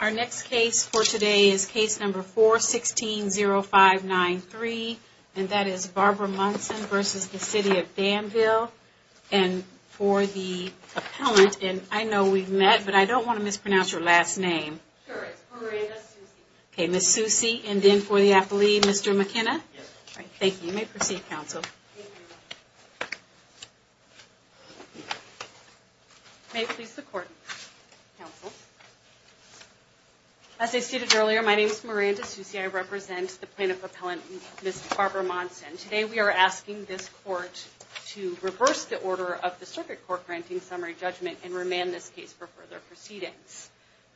Our next case for today is case number 4-16-0593, and that is Barbara Monson v. City of Danville and for the appellant, and I know we've met, but I don't want to mispronounce your last name. Sure, it's Miranda Soucy. Okay, Ms. Soucy, and then for the appellee, Mr. McKenna? Yes. Thank you. You may proceed, counsel. Barbara Monson v. City of Danville May it please the court, counsel. As I stated earlier, my name is Miranda Soucy. I represent the plaintiff appellant, Ms. Barbara Monson. Today we are asking this court to reverse the order of the circuit court granting summary judgment and remand this case for further proceedings.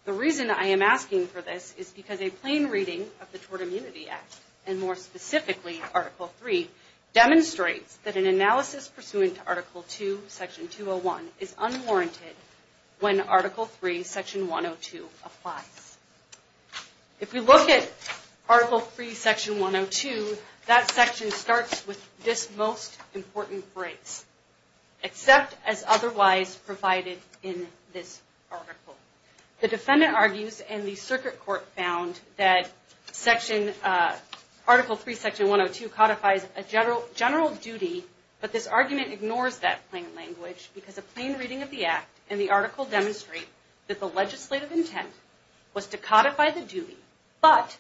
The reason I am asking for this is because a plain reading of the Tort Immunity Act, and more specifically, Article III, demonstrates that an analysis pursuant to Article II, Section 201, is unwarranted when Article III, Section 102 applies. If we look at Article III, Section 102, that section starts with this most important phrase, except as otherwise provided in this article. The defendant argues, and the circuit court found, that Article III, Section 102 codifies a general duty, but this argument ignores that plain language because a plain reading of the Act and the article demonstrate that the legislative intent was to codify the duty, but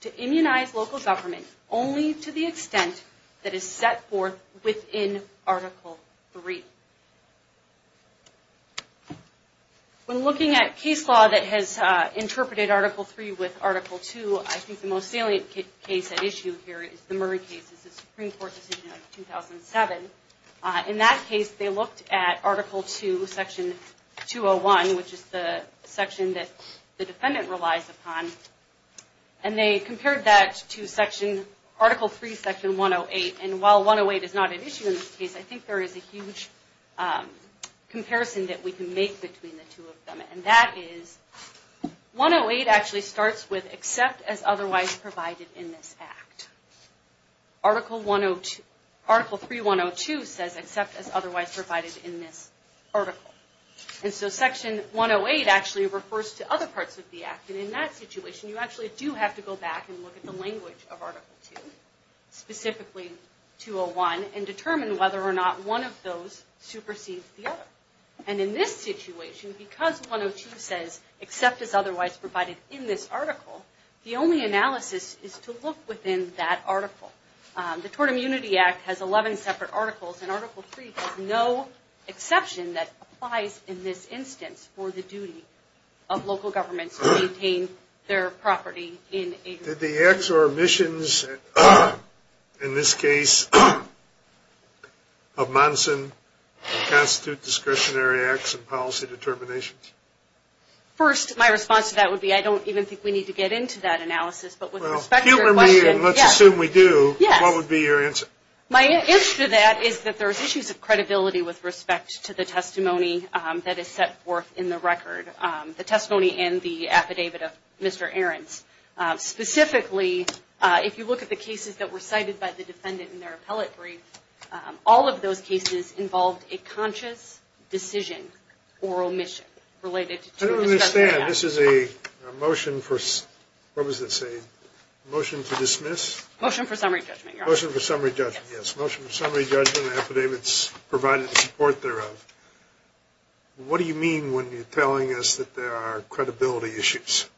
to immunize local government only to the extent that is set forth within Article III. When looking at case law that has interpreted Article III with Article II, I think the most salient case at issue here is the Murray case, the Supreme Court decision of 2007. In that case, they looked at Article II, Section 201, which is the section that the defendant relies upon, and they compared that to Article III, Section 108, and while 108 is not at issue in this case, I think there is a huge comparison that we can make between the two of them. And that is, 108 actually starts with except as otherwise provided in this Act. Article III, 102 says except as otherwise provided in this article. And so Section 108 actually refers to other parts of the Act, and in that situation, you actually do have to go back and look at the language of Article II, specifically 201, and determine whether or not one of those supersedes the other. And in this situation, because 102 says except as otherwise provided in this article, the only analysis is to look within that article. The Tort Immunity Act has 11 separate articles, and Article III has no exception that applies in this instance for the duty of local governments to maintain their property in a... Did the acts or omissions in this case of Monson constitute discretionary acts and policy determinations? First, my response to that would be I don't even think we need to get into that analysis, but with respect to your question... Well, humor me and let's assume we do. Yes. What would be your answer? My answer to that is that there's issues of credibility with respect to the testimony that is set forth in the record, the testimony and the affidavit of Mr. Ahrens. Specifically, if you look at the cases that were cited by the defendant in their appellate brief, all of those cases involved a conscious decision or omission related to a discretionary act. I don't understand. This is a motion for... What does it say? Motion for summary judgment, Your Honor. Motion for summary judgment, yes. Motion for summary judgment, affidavits provided in support thereof. What do you mean when you're telling us that there are credibility issues?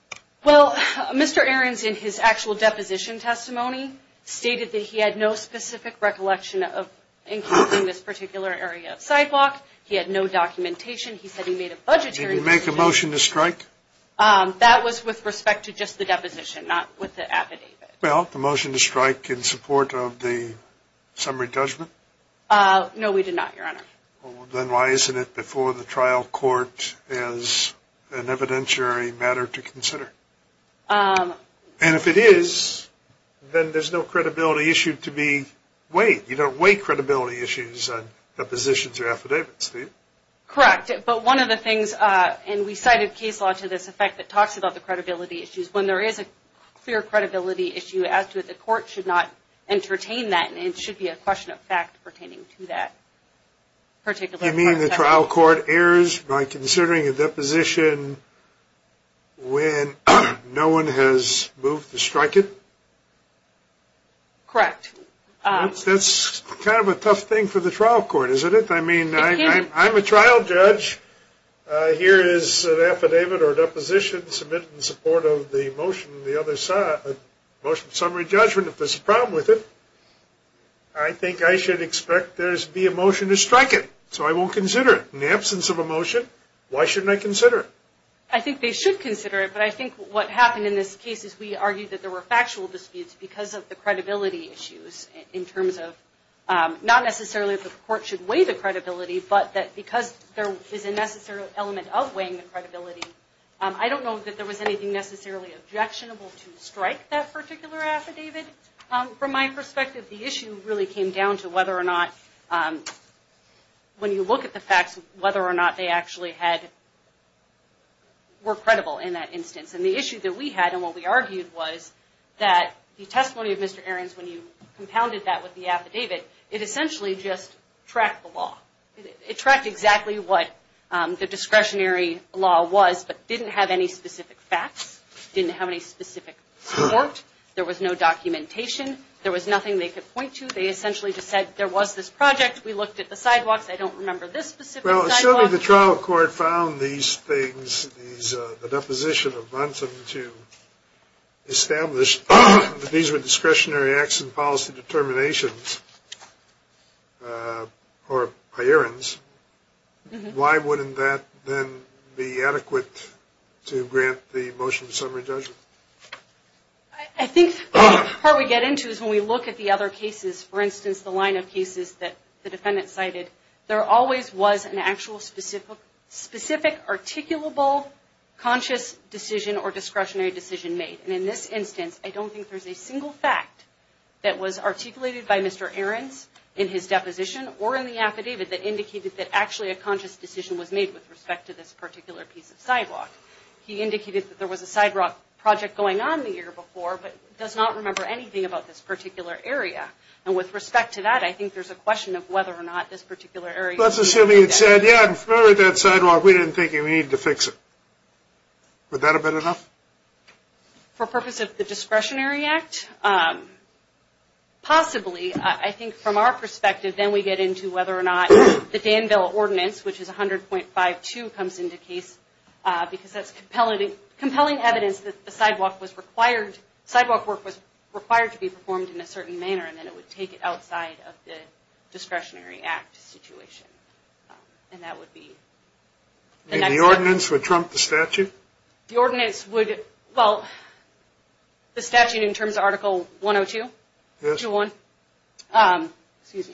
Well, Mr. Ahrens in his actual deposition testimony stated that he had no specific recollection of including this particular area of sidewalk. He had no documentation. He said he made a budgetary... Did he make a motion to strike? That was with respect to just the deposition, not with the affidavit. Well, the motion to strike in support of the summary judgment? No, we did not, Your Honor. Then why isn't it before the trial court as an evidentiary matter to consider? And if it is, then there's no credibility issue to be weighed. You don't weigh credibility issues on depositions or affidavits, do you? Correct. But one of the things, and we cited case law to this effect that talks about the credibility issues, when there is a clear credibility issue as to it, the court should not entertain that, and it should be a question of fact pertaining to that particular... You mean the trial court errs by considering a deposition when no one has moved to strike it? Correct. That's kind of a tough thing for the trial court, isn't it? I mean, I'm a trial judge. Here is an affidavit or a deposition submitted in support of the motion, the other summary judgment. If there's a problem with it, I think I should expect there to be a motion to strike it, so I won't consider it. In the absence of a motion, why shouldn't I consider it? I think they should consider it, but I think what happened in this case is we argued that there were factual disputes because of the credibility issues in terms of not necessarily the court should weigh the credibility, but that because there is a necessary element of weighing the credibility, I don't know that there was anything necessarily objectionable to strike that particular affidavit. From my perspective, the issue really came down to whether or not, when you look at the facts, whether or not they actually were credible in that instance. And the issue that we had and what we argued was that the testimony of Mr. Ahrens, when you compounded that with the affidavit, it essentially just tracked the law. It tracked exactly what the discretionary law was but didn't have any specific facts, didn't have any specific report. There was no documentation. There was nothing they could point to. They essentially just said there was this project. We looked at the sidewalks. I don't remember this specific sidewalk. Well, assuming the trial court found these things, the deposition of Bunsen to establish that these were discretionary acts and policy determinations for Ahrens, why wouldn't that then be adequate to grant the motion of summary judgment? I think part of what we get into is when we look at the other cases, for instance, the line of cases that the defendant cited, there always was an actual specific articulable conscious decision or discretionary decision made. And in this instance, I don't think there's a single fact that was articulated by Mr. Ahrens in his deposition or in the affidavit that indicated that actually a conscious decision was made with respect to this particular piece of sidewalk. He indicated that there was a sidewalk project going on the year before but does not remember anything about this particular area. And with respect to that, I think there's a question of whether or not this particular area. Let's assume he had said, yeah, I'm familiar with that sidewalk. We didn't think you needed to fix it. Would that have been enough? For purpose of the discretionary act, possibly. I think from our perspective, then we get into whether or not the Danville Ordinance, which is 100.52, comes into case because that's compelling evidence that the sidewalk work was required to be performed in a certain manner and then it would take it outside of the discretionary act situation. And that would be the next step. And the ordinance would trump the statute? The ordinance would, well, the statute in terms of Article 102, excuse me,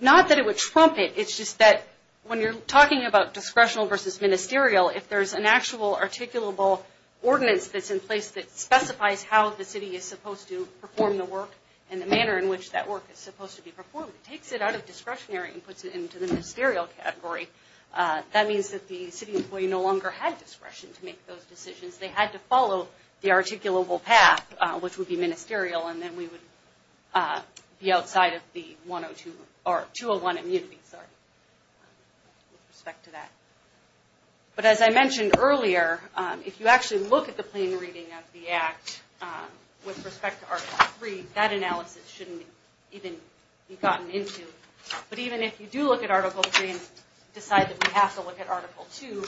not that it would trump it. It's just that when you're talking about discretional versus ministerial, if there's an actual articulable ordinance that's in place that specifies how the city is supposed to perform the work and the manner in which that work is supposed to be performed, it takes it out of discretionary and puts it into the ministerial category. That means that the city employee no longer had discretion to make those decisions. They had to follow the articulable path, which would be ministerial, and then we would be outside of the 201 immunity with respect to that. But as I mentioned earlier, if you actually look at the plain reading of the act with respect to Article 3, that analysis shouldn't even be gotten into. But even if you do look at Article 3 and decide that we have to look at Article 2,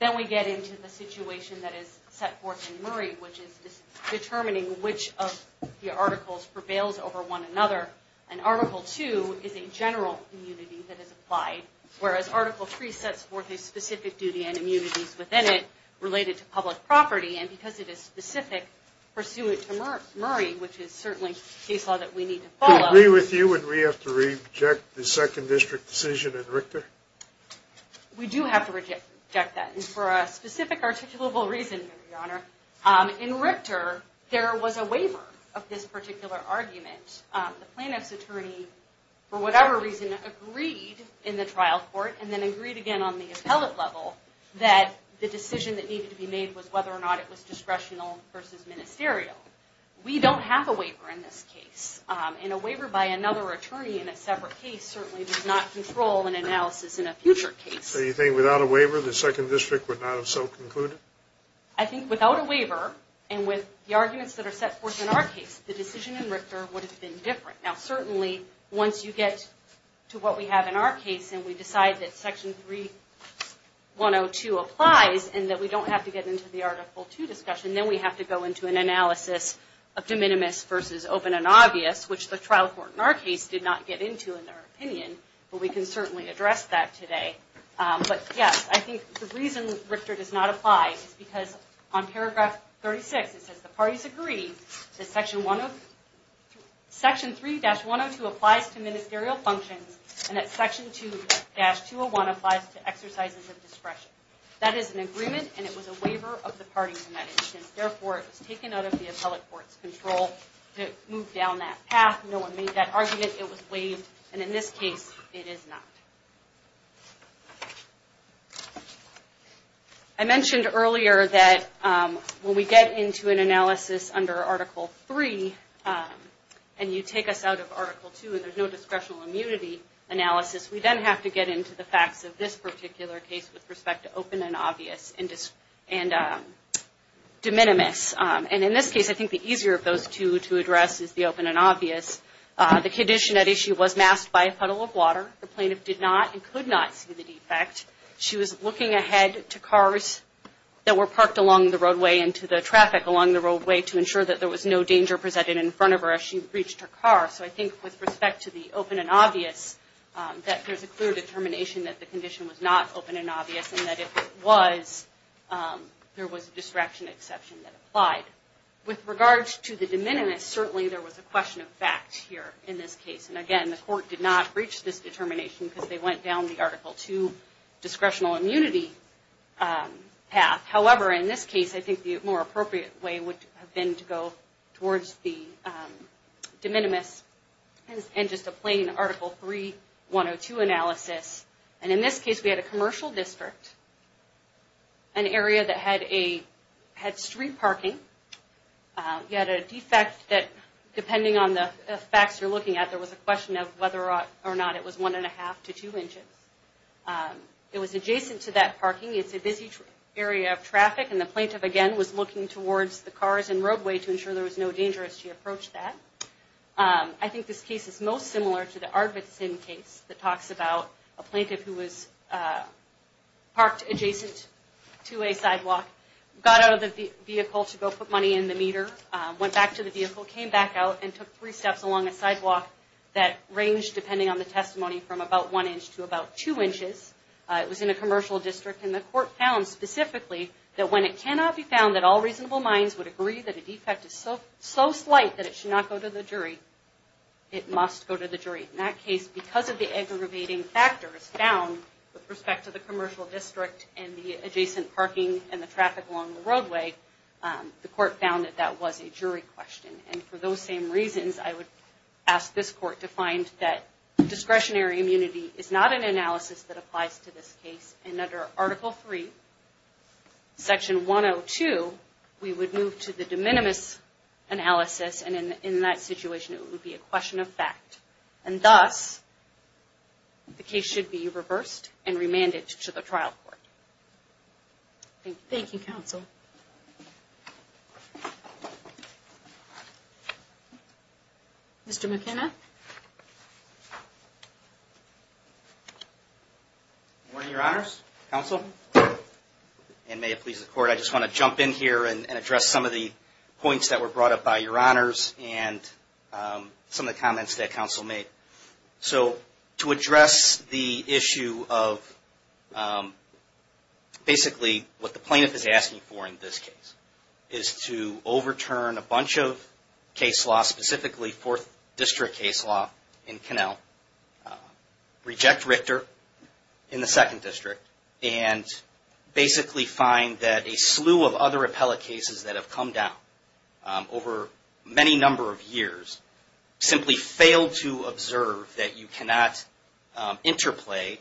then we get into the situation that is set forth in Murray, which is determining which of the articles prevails over one another. And Article 2 is a general immunity that is applied, whereas Article 3 sets forth a specific duty and immunities within it related to public property. And because it is specific pursuant to Murray, which is certainly a case law that we need to follow. Do we agree with you that we have to reject the second district decision in Richter? We do have to reject that. And for a specific articulable reason, Your Honor, in Richter there was a waiver of this particular argument. The plaintiff's attorney, for whatever reason, agreed in the trial court and then agreed again on the appellate level that the decision that needed to be made was whether or not it was discretional versus ministerial. We don't have a waiver in this case. And a waiver by another attorney in a separate case certainly does not control an analysis in a future case. So you think without a waiver the second district would not have so concluded? I think without a waiver and with the arguments that are set forth in our case, the decision in Richter would have been different. Now certainly once you get to what we have in our case and we decide that Section 3102 applies and that we don't have to get into the Article 2 discussion, then we have to go into an analysis of de minimis versus open and obvious, which the trial court in our case did not get into in their opinion. But we can certainly address that today. But yes, I think the reason Richter does not apply is because on Paragraph 36 it says the parties agree that Section 3-102 applies to ministerial functions and that Section 2-201 applies to exercises of discretion. That is an agreement and it was a waiver of the parties in that instance. Therefore, it was taken out of the appellate court's control to move down that path. No one made that argument. It was waived. And in this case, it is not. I mentioned earlier that when we get into an analysis under Article 3 and you take us out of Article 2 and there is no discretional immunity analysis, we then have to get into the facts of this particular case with respect to open and obvious and de minimis. And in this case, I think the easier of those two to address is the open and obvious. The condition at issue was masked by a puddle of water. The plaintiff did not and could not see the defect. She was looking ahead to cars that were parked along the roadway and to the traffic along the roadway to ensure that there was no danger presented in front of her as she breached her car. So I think with respect to the open and obvious, that there is a clear determination that the condition was not open and obvious and that if it was, there was a distraction exception that applied. With regards to the de minimis, certainly there was a question of fact here in this case. And again, the court did not reach this determination because they went down the Article 2 discretional immunity path. However, in this case, I think the more appropriate way would have been to go towards the de minimis and just a plain Article 3, 102 analysis. And in this case, we had a commercial district, an area that had street parking. You had a defect that depending on the facts you're looking at, there was a question of whether or not it was one and a half to two inches. It was adjacent to that parking. It's a busy area of traffic, and the plaintiff, again, was looking towards the cars and roadway to ensure there was no danger as she approached that. I think this case is most similar to the Ardvitsin case that talks about a plaintiff who was parked adjacent to a sidewalk, got out of the vehicle to go put money in the meter, went back to the vehicle, came back out, and took three steps along a sidewalk that ranged, depending on the testimony, from about one inch to about two inches. It was in a commercial district, and the court found specifically that when it cannot be found that all reasonable minds would agree that a defect is so slight that it should not go to the jury, it must go to the jury. In that case, because of the aggravating factors found with respect to the commercial district and the adjacent parking and the traffic along the roadway, the court found that that was a jury question. And for those same reasons, I would ask this court to find that discretionary immunity is not an analysis that applies to this case. And under Article III, Section 102, we would move to the de minimis analysis, and in that situation, it would be a question of fact. And thus, the case should be reversed and remanded to the trial court. Thank you. Thank you, Counsel. Mr. McKenna? Good morning, Your Honors, Counsel, and may it please the Court, I just want to jump in here and address some of the points that were brought up by Your Honors and some of the comments that Counsel made. So, to address the issue of basically what the plaintiff is asking for in this case, is to overturn a bunch of case laws, specifically Fourth District case law in Connell, reject Richter in the Second District, and basically find that a slew of other appellate cases that have come down over many number of years simply failed to observe that you cannot interplay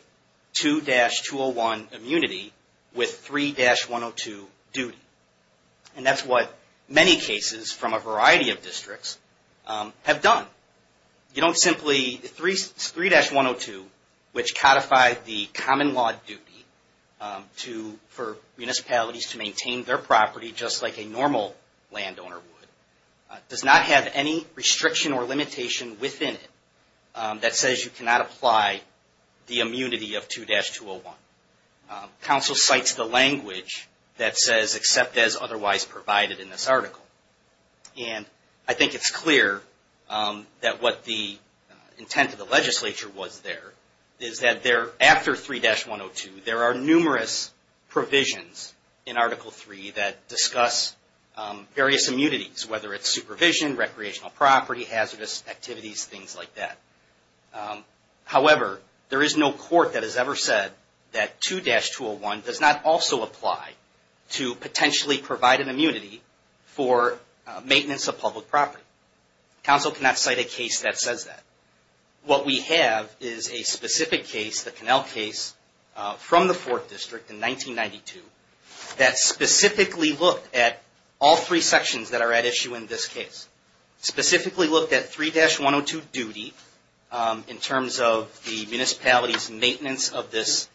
2-201 immunity with 3-102 duty. And that's what many cases from a variety of districts have done. You don't simply, 3-102, which codified the common law duty for municipalities to maintain their property just like a normal landowner would, does not have any restriction or limitation within it that says you cannot apply the immunity of 2-201. Counsel cites the language that says, except as otherwise provided in this article. And I think it's clear that what the intent of the legislature was there, is that there, after 3-102, there are numerous provisions in Article III that discuss various immunities, whether it's supervision, recreational property, hazardous activities, things like that. However, there is no court that has ever said that 2-201 does not also apply to potentially provide an immunity for maintenance of public property. Counsel cannot cite a case that says that. What we have is a specific case, the Connell case, from the 4th District in 1992, that specifically looked at all three sections that are at issue in this case. Specifically looked at 3-102 duty in terms of the municipality's maintenance of this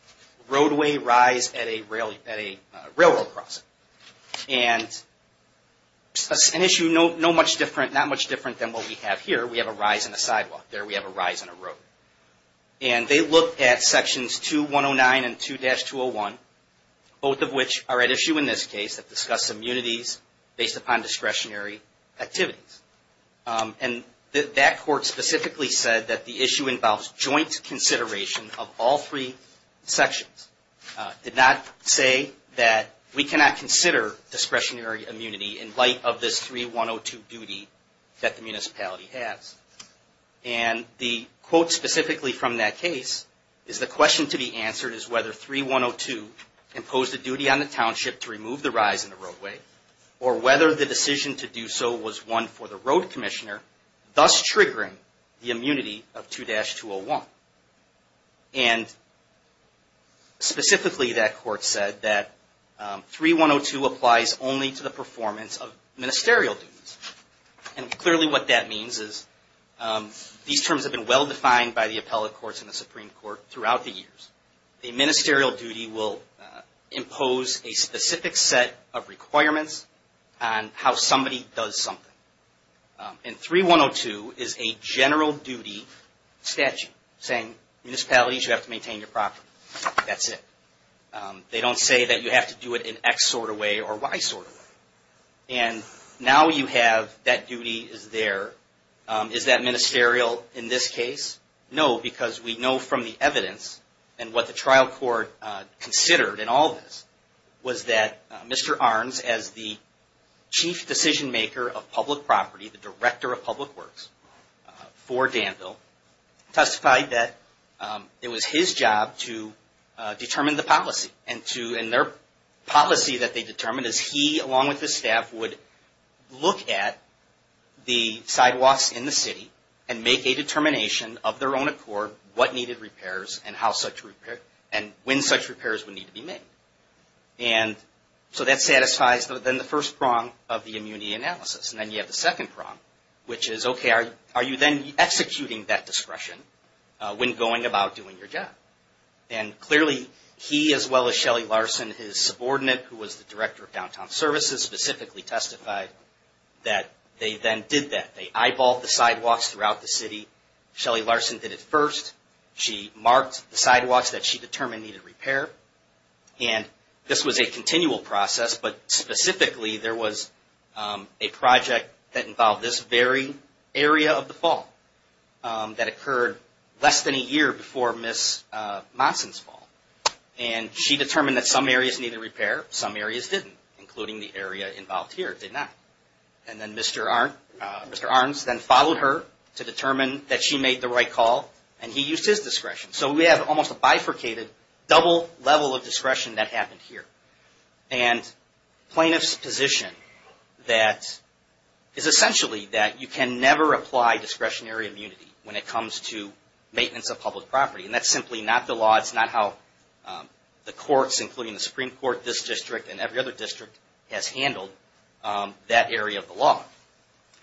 roadway rise at a railroad crossing. And an issue not much different than what we have here. Here we have a rise in a sidewalk. There we have a rise in a road. And they looked at sections 2-109 and 2-201, both of which are at issue in this case, that discuss immunities based upon discretionary activities. And that court specifically said that the issue involves joint consideration of all three sections. Did not say that we cannot consider discretionary immunity in light of this 3-102 duty that the municipality has. And the quote specifically from that case is, the question to be answered is whether 3-102 imposed a duty on the township to remove the rise in the roadway, or whether the decision to do so was one for the road commissioner, thus triggering the immunity of 2-201. And specifically that court said that 3-102 applies only to the performance of ministerial duties. And clearly what that means is these terms have been well defined by the appellate courts and the Supreme Court throughout the years. A ministerial duty will impose a specific set of requirements on how somebody does something. And 3-102 is a general duty statute saying municipalities, you have to maintain your property. That's it. They don't say that you have to do it in X sort of way or Y sort of way. And now you have that duty is there. Is that ministerial in this case? No, because we know from the evidence and what the trial court considered in all this, was that Mr. Arnes, as the chief decision maker of public property, the director of public works for Danville, testified that it was his job to determine the policy. And their policy that they determined is he, along with his staff, would look at the sidewalks in the city and make a determination of their own accord what needed repairs and when such repairs would need to be made. And so that satisfies then the first prong of the immunity analysis. And then you have the second prong, which is, okay, are you then executing that discretion when going about doing your job? And clearly he, as well as Shelly Larson, his subordinate, who was the director of downtown services, specifically testified that they then did that. They eyeballed the sidewalks throughout the city. Shelly Larson did it first. She marked the sidewalks that she determined needed repair. And this was a continual process, but specifically there was a project that involved this very area of the fall that occurred less than a year before Ms. Monson's fall. And she determined that some areas needed repair, some areas didn't, including the area involved here did not. And then Mr. Arnes then followed her to determine that she made the right call, and he used his discretion. So we have almost a bifurcated, double level of discretion that happened here. And plaintiff's position that is essentially that you can never apply discretionary immunity when it comes to maintenance of public property. And that's simply not the law. It's not how the courts, including the Supreme Court, this district, and every other district, has handled that area of the law.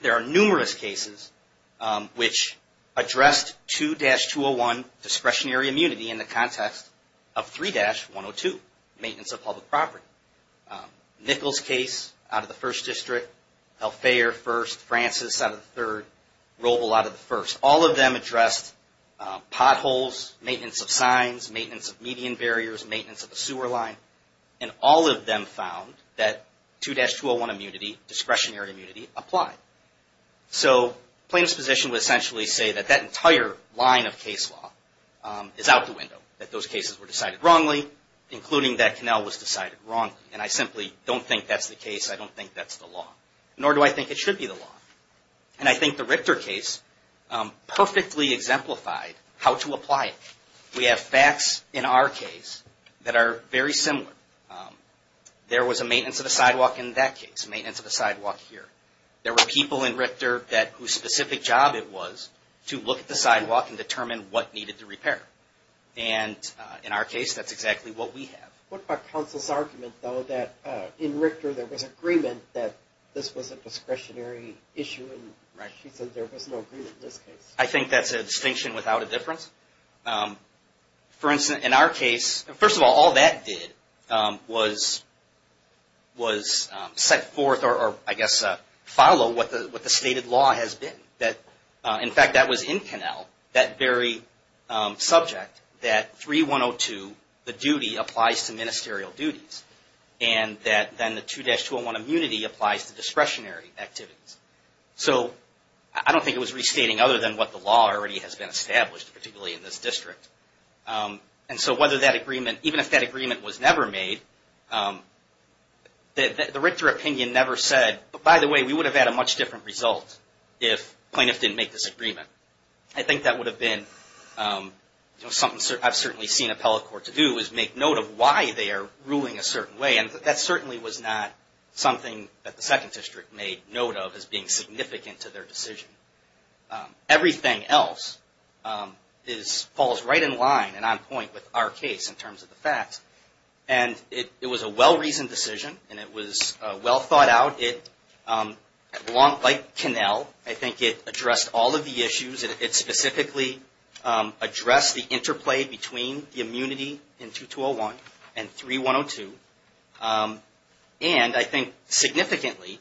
There are numerous cases which addressed 2-201 discretionary immunity in the context of 3-102, maintenance of public property. Nichols case out of the first district, Helfayer first, Francis out of the third, Roble out of the first. All of them addressed potholes, maintenance of signs, maintenance of median barriers, maintenance of the sewer line. And all of them found that 2-201 immunity, discretionary immunity, applied. So plaintiff's position would essentially say that that entire line of case law is out the window, that those cases were decided wrongly, including that canal was decided wrongly. And I simply don't think that's the case. I don't think that's the law. Nor do I think it should be the law. And I think the Richter case perfectly exemplified how to apply it. We have facts in our case that are very similar. There was a maintenance of the sidewalk in that case, maintenance of the sidewalk here. There were people in Richter whose specific job it was to look at the sidewalk and determine what needed to repair. And in our case, that's exactly what we have. What about counsel's argument, though, that in Richter there was agreement that this was a discretionary issue, and she said there was no agreement in this case? I think that's a distinction without a difference. For instance, in our case, first of all, all that did was set forth or, I guess, follow what the stated law has been. In fact, that was in canal, that very subject, that 3-102, the duty, applies to ministerial duties. And that then the 2-201 immunity applies to discretionary activities. So I don't think it was restating other than what the law already has been established, particularly in this district. And so whether that agreement, even if that agreement was never made, the Richter opinion never said, by the way, we would have had a much different result if plaintiffs didn't make this agreement. I think that would have been something I've certainly seen appellate court to do, is make note of why they are ruling a certain way. And that certainly was not something that the second district made note of as being significant to their decision. Everything else falls right in line and on point with our case in terms of the facts. And it was a well-reasoned decision, and it was well thought out. Like canal, I think it addressed all of the issues. It specifically addressed the interplay between the immunity in 2-201 and 3-102. And I think significantly,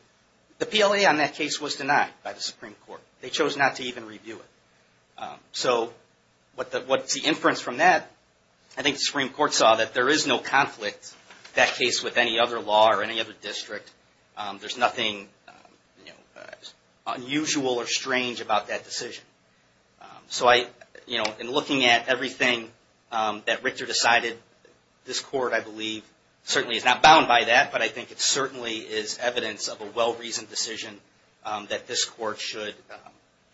the PLA on that case was denied by the Supreme Court. They chose not to even review it. So what's the inference from that? I think the Supreme Court saw that there is no conflict, that case, with any other law or any other district. There's nothing unusual or strange about that decision. So in looking at everything that Richter decided, this court, I believe, certainly is not bound by that, but I think it certainly is evidence of a well-reasoned decision that this court should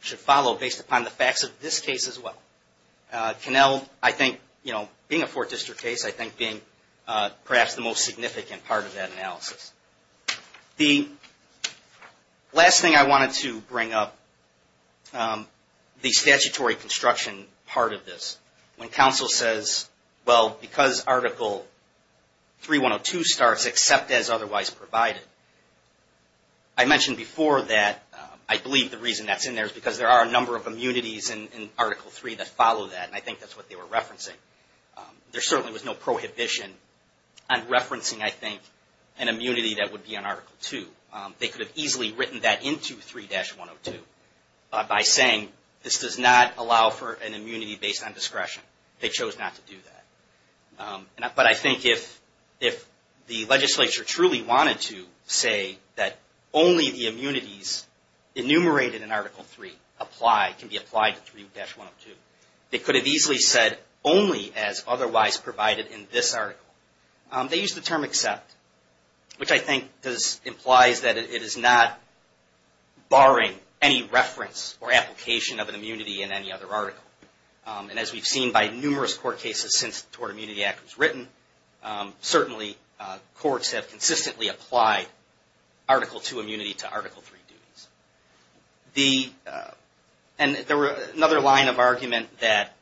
follow, based upon the facts of this case as well. Canal, I think, being a Fourth District case, I think being perhaps the most significant part of that analysis. The last thing I wanted to bring up, the statutory construction part of this. When counsel says, well, because Article 3-102 starts, except as otherwise provided, I mentioned before that I believe the reason that's in there is because there are a number of immunities in Article 3 that follow that, and I think that's what they were referencing. There certainly was no prohibition on referencing, I think, an immunity that would be on Article 2. They could have easily written that into 3-102 by saying this does not allow for an immunity based on discretion. They chose not to do that. But I think if the legislature truly wanted to say that only the immunities enumerated in Article 3 apply, can be applied to 3-102, they could have easily said only as otherwise provided in this article. They used the term except, which I think implies that it is not barring any reference or application of an immunity in any other article. And as we've seen by numerous court cases since the Tort Immunity Act was written, certainly courts have consistently applied Article 2 immunity to Article 3 duties. And another line of argument that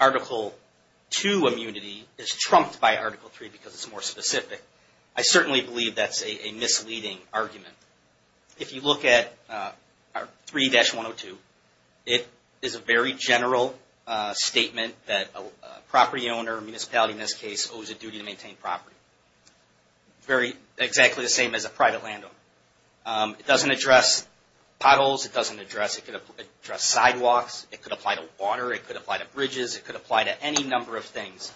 Article 2 immunity is trumped by Article 3 because it's more specific, I certainly believe that's a misleading argument. If you look at 3-102, it is a very general statement that a property owner, a municipality in this case, owes a duty to maintain property. Very exactly the same as a private landowner. It doesn't address potholes. It doesn't address sidewalks. It could apply to water. It could apply to bridges. It could apply to any number of things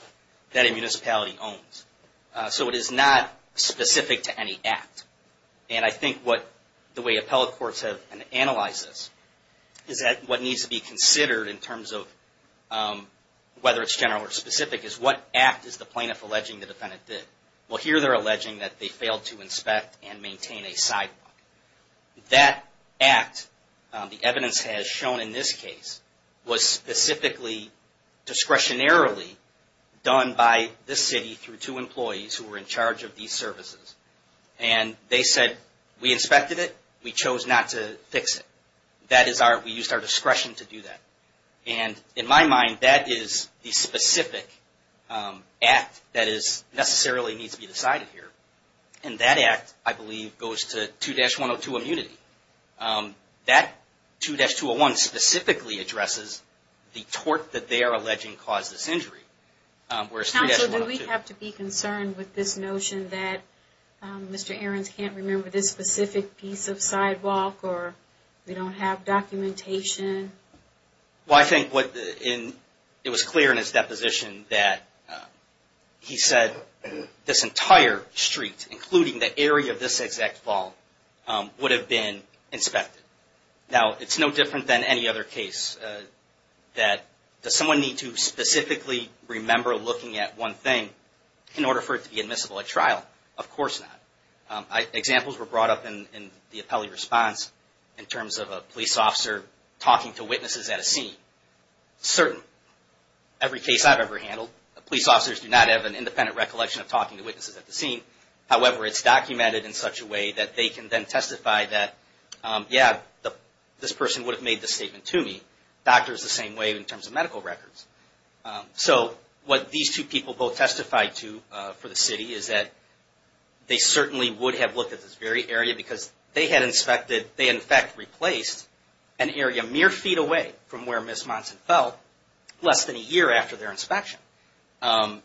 that a municipality owns. So it is not specific to any act. And I think what the way appellate courts have analyzed this is that what needs to be considered in terms of whether it's general or specific is what act is the plaintiff alleging the defendant did? Well, here they're alleging that they failed to inspect and maintain a sidewalk. That act, the evidence has shown in this case, was specifically discretionarily done by the city through two employees who were in charge of these services. And they said, we inspected it. We chose not to fix it. That is our, we used our discretion to do that. And in my mind, that is the specific act that necessarily needs to be decided here. And that act, I believe, goes to 2-102 immunity. That 2-201 specifically addresses the tort that they are alleging caused this injury. Counsel, do we have to be concerned with this notion that Mr. Ahrens can't remember this specific piece of sidewalk or we don't have documentation? Well, I think what, it was clear in his deposition that he said this entire street, including the area of this exact vault, would have been inspected. Now, it's no different than any other case that does someone need to specifically remember looking at one thing in order for it to be admissible at trial? Of course not. Examples were brought up in the appellee response in terms of a police officer talking to witnesses at a scene. Certain. Every case I've ever handled, police officers do not have an independent recollection of talking to witnesses at the scene. However, it's documented in such a way that they can then testify that, yeah, this person would have made this statement to me. Doctors the same way in terms of medical records. So what these two people both testified to for the city is that they certainly would have looked at this very area because they had inspected, they in fact replaced an area mere feet away from where Ms. Monson fell less than a year after their inspection. And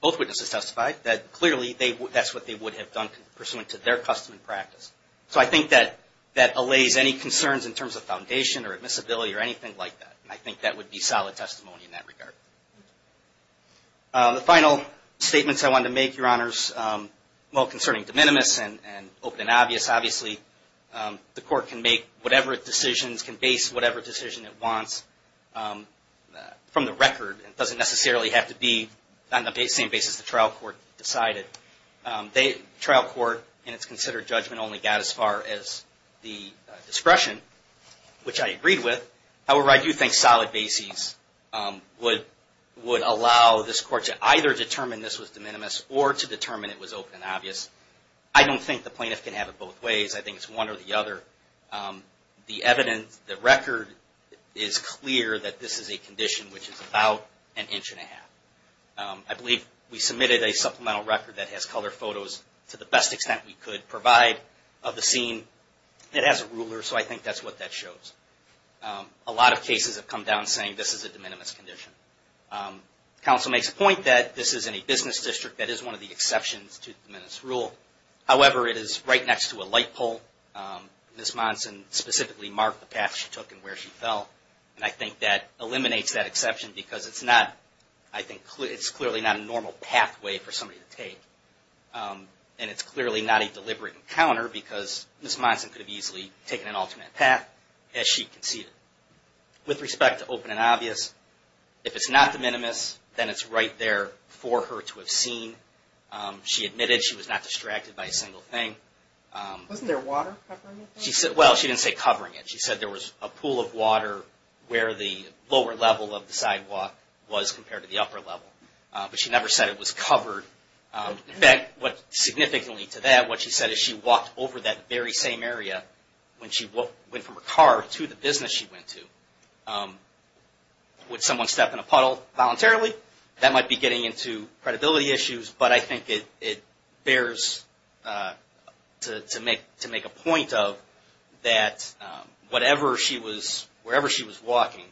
both witnesses testified that clearly that's what they would have done pursuant to their custom and practice. So I think that allays any concerns in terms of foundation or admissibility or anything like that. I think that would be solid testimony in that regard. The final statements I wanted to make, Your Honors, well, concerning de minimis and open and obvious, obviously, the court can make whatever decisions, can base whatever decision it wants from the record. It doesn't necessarily have to be on the same basis the trial court decided. The trial court in its considered judgment only got as far as the discretion, which I agreed with. However, I do think solid bases would allow this court to either determine this was de minimis or to determine it was open and obvious. I don't think the plaintiff can have it both ways. I think it's one or the other. The evidence, the record is clear that this is a condition which is about an inch and a half. I believe we submitted a supplemental record that has color photos to the best extent we could provide of the scene. It has a ruler, so I think that's what that shows. A lot of cases have come down saying this is a de minimis condition. Counsel makes a point that this is in a business district that is one of the exceptions to the de minimis rule. However, it is right next to a light pole. Ms. Monson specifically marked the path she took and where she fell. And I think that eliminates that exception because it's not, I think, it's clearly not a normal pathway for somebody to take. And it's clearly not a deliberate encounter because Ms. Monson could have easily taken an alternate path as she conceded. With respect to open and obvious, if it's not de minimis, then it's right there for her to have seen. She admitted she was not distracted by a single thing. Wasn't there water covering it? Well, she didn't say covering it. She said there was a pool of water where the lower level of the sidewalk was compared to the upper level. But she never said it was covered. In fact, significantly to that, what she said is she walked over that very same area when she went from her car to the business she went to. Would someone step in a puddle voluntarily? That might be getting into credibility issues. But I think it bears to make a point of that wherever she was walking,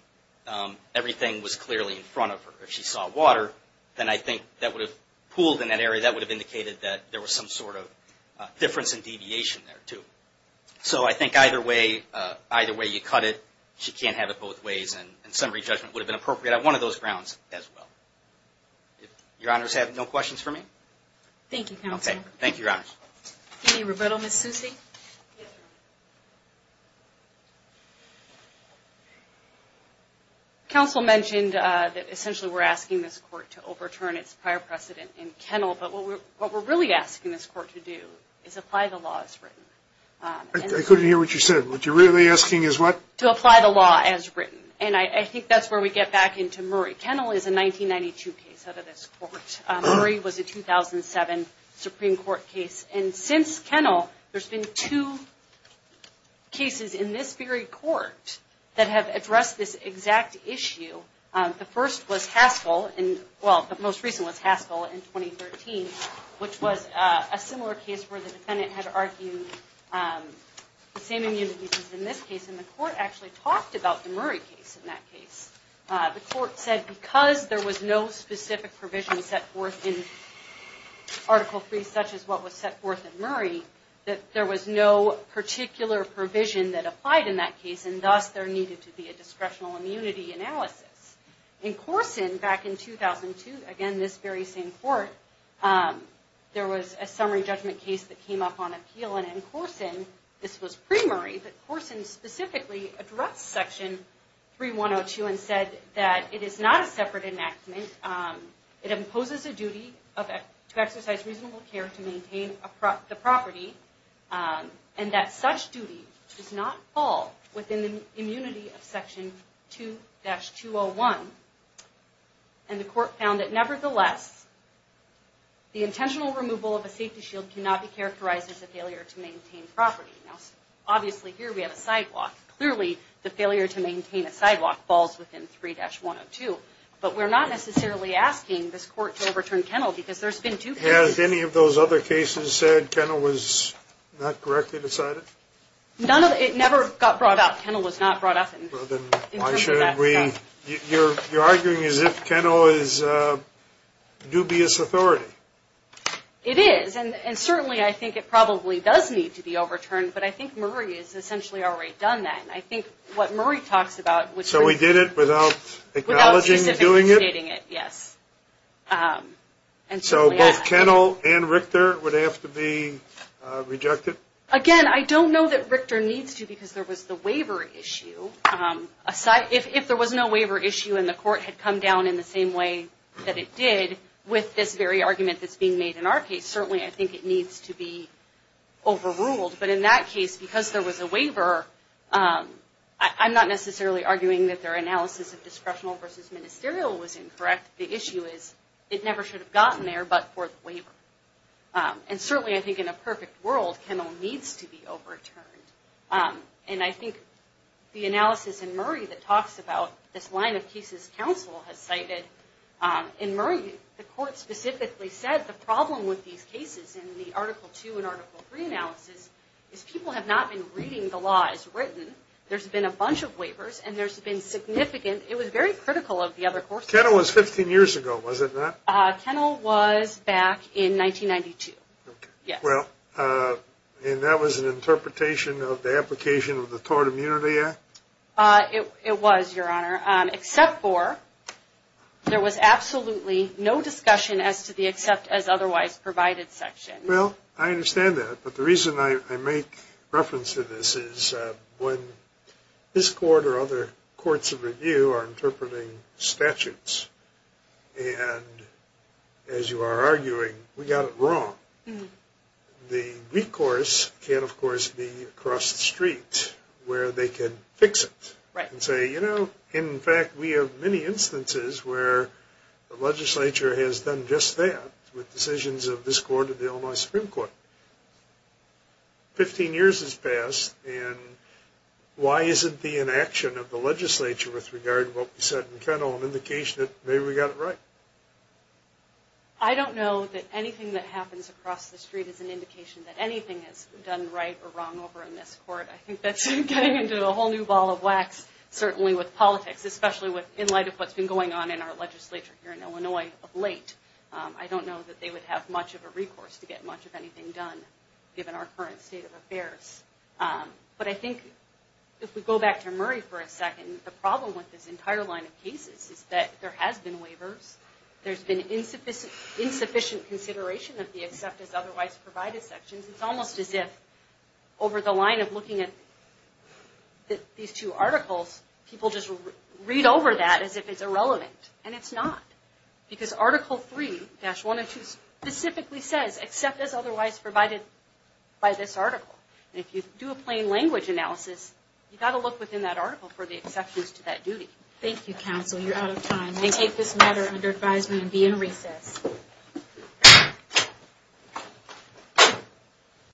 everything was clearly in front of her. If she saw water, then I think that would have pooled in that area. That would have indicated that there was some sort of difference in deviation there, too. So I think either way you cut it, she can't have it both ways. And summary judgment would have been appropriate on one of those grounds as well. Your Honors have no questions for me? Thank you, Counselor. Okay. Thank you, Your Honors. Any rebuttal, Ms. Susi? Yes, Your Honor. Counsel mentioned that essentially we're asking this court to overturn its prior precedent in Kennell. But what we're really asking this court to do is apply the law as written. I couldn't hear what you said. What you're really asking is what? To apply the law as written. And I think that's where we get back into Murray. Kennell is a 1992 case out of this court. Murray was a 2007 Supreme Court case. And since Kennell, there's been two cases in this very court that have addressed this exact issue. The first was Haskell. Well, the most recent was Haskell in 2013, which was a similar case where the defendant had argued the same immunities as in this case. And the court actually talked about the Murray case in that case. The court said because there was no specific provision set forth in Article III, such as what was set forth in Murray, that there was no particular provision that applied in that case, and thus there needed to be a discretional immunity analysis. In Corson, back in 2002, again, this very same court, there was a summary judgment case that came up on appeal. This was pre-Murray, but Corson specifically addressed Section 3102 and said that it is not a separate enactment. It imposes a duty to exercise reasonable care to maintain the property, and that such duty does not fall within the immunity of Section 2-201. And the court found that nevertheless, the intentional removal of a safety shield cannot be characterized as a failure to maintain property. Now, obviously, here we have a sidewalk. Clearly, the failure to maintain a sidewalk falls within 3-102, but we're not necessarily asking this court to overturn Kennell because there's been two cases. Has any of those other cases said Kennell was not correctly decided? None of them. It never got brought up. Kennell was not brought up in terms of that. You're arguing as if Kennell is dubious authority. It is. And certainly, I think it probably does need to be overturned, but I think Murray has essentially already done that. And I think what Murray talks about was... So he did it without acknowledging he's doing it? Without specifically stating it, yes. And so both Kennell and Richter would have to be rejected? Again, I don't know that Richter needs to because there was the waiver issue. If there was no waiver issue and the court had come down in the same way that it did with this very argument that's being made in our case, certainly I think it needs to be overruled. But in that case, because there was a waiver, I'm not necessarily arguing that their analysis of discretional versus ministerial was incorrect. The issue is it never should have gotten there but for the waiver. And certainly, I think in a perfect world, Kennell needs to be overturned. And I think the analysis in Murray that talks about this line of cases counsel has cited, in Murray, the court specifically said the problem with these cases in the Article II and Article III analysis is people have not been reading the laws written. There's been a bunch of waivers and there's been significant... It was very critical of the other courts. Kennell was 15 years ago, was it not? Kennell was back in 1992. And that was an interpretation of the application of the Tort Immunity Act? It was, Your Honor. Except for there was absolutely no discussion as to the except as otherwise provided section. Well, I understand that. But the reason I make reference to this is when this court or other courts of review are interpreting statutes and as you are arguing, we got it wrong. The recourse can, of course, be across the street where they can fix it and say, you know, in fact, we have many instances where the legislature has done just that with decisions of this court or the Illinois Supreme Court. Fifteen years has passed and why isn't the inaction of the legislature with regard to what we said and Kennell an indication that maybe we got it right? I don't know that anything that happens across the street is an indication that anything is done right or wrong over in this court. I think that's getting into a whole new ball of wax, certainly with politics, especially in light of what's been going on in our legislature here in Illinois of late. I don't know that they would have much of a recourse to get much of anything done, given our current state of affairs. But I think if we go back to Murray for a second, the problem with this entire line of cases is that there has been waivers. There's been insufficient consideration of the except as otherwise provided sections. It's almost as if over the line of looking at these two articles, people just read over that as if it's irrelevant and it's not. Because Article 3-102 specifically says except as otherwise provided by this article. If you do a plain language analysis, you've got to look within that article for the exceptions to that duty. Thank you, counsel. You're out of time. I take this matter under advisement and be in recess.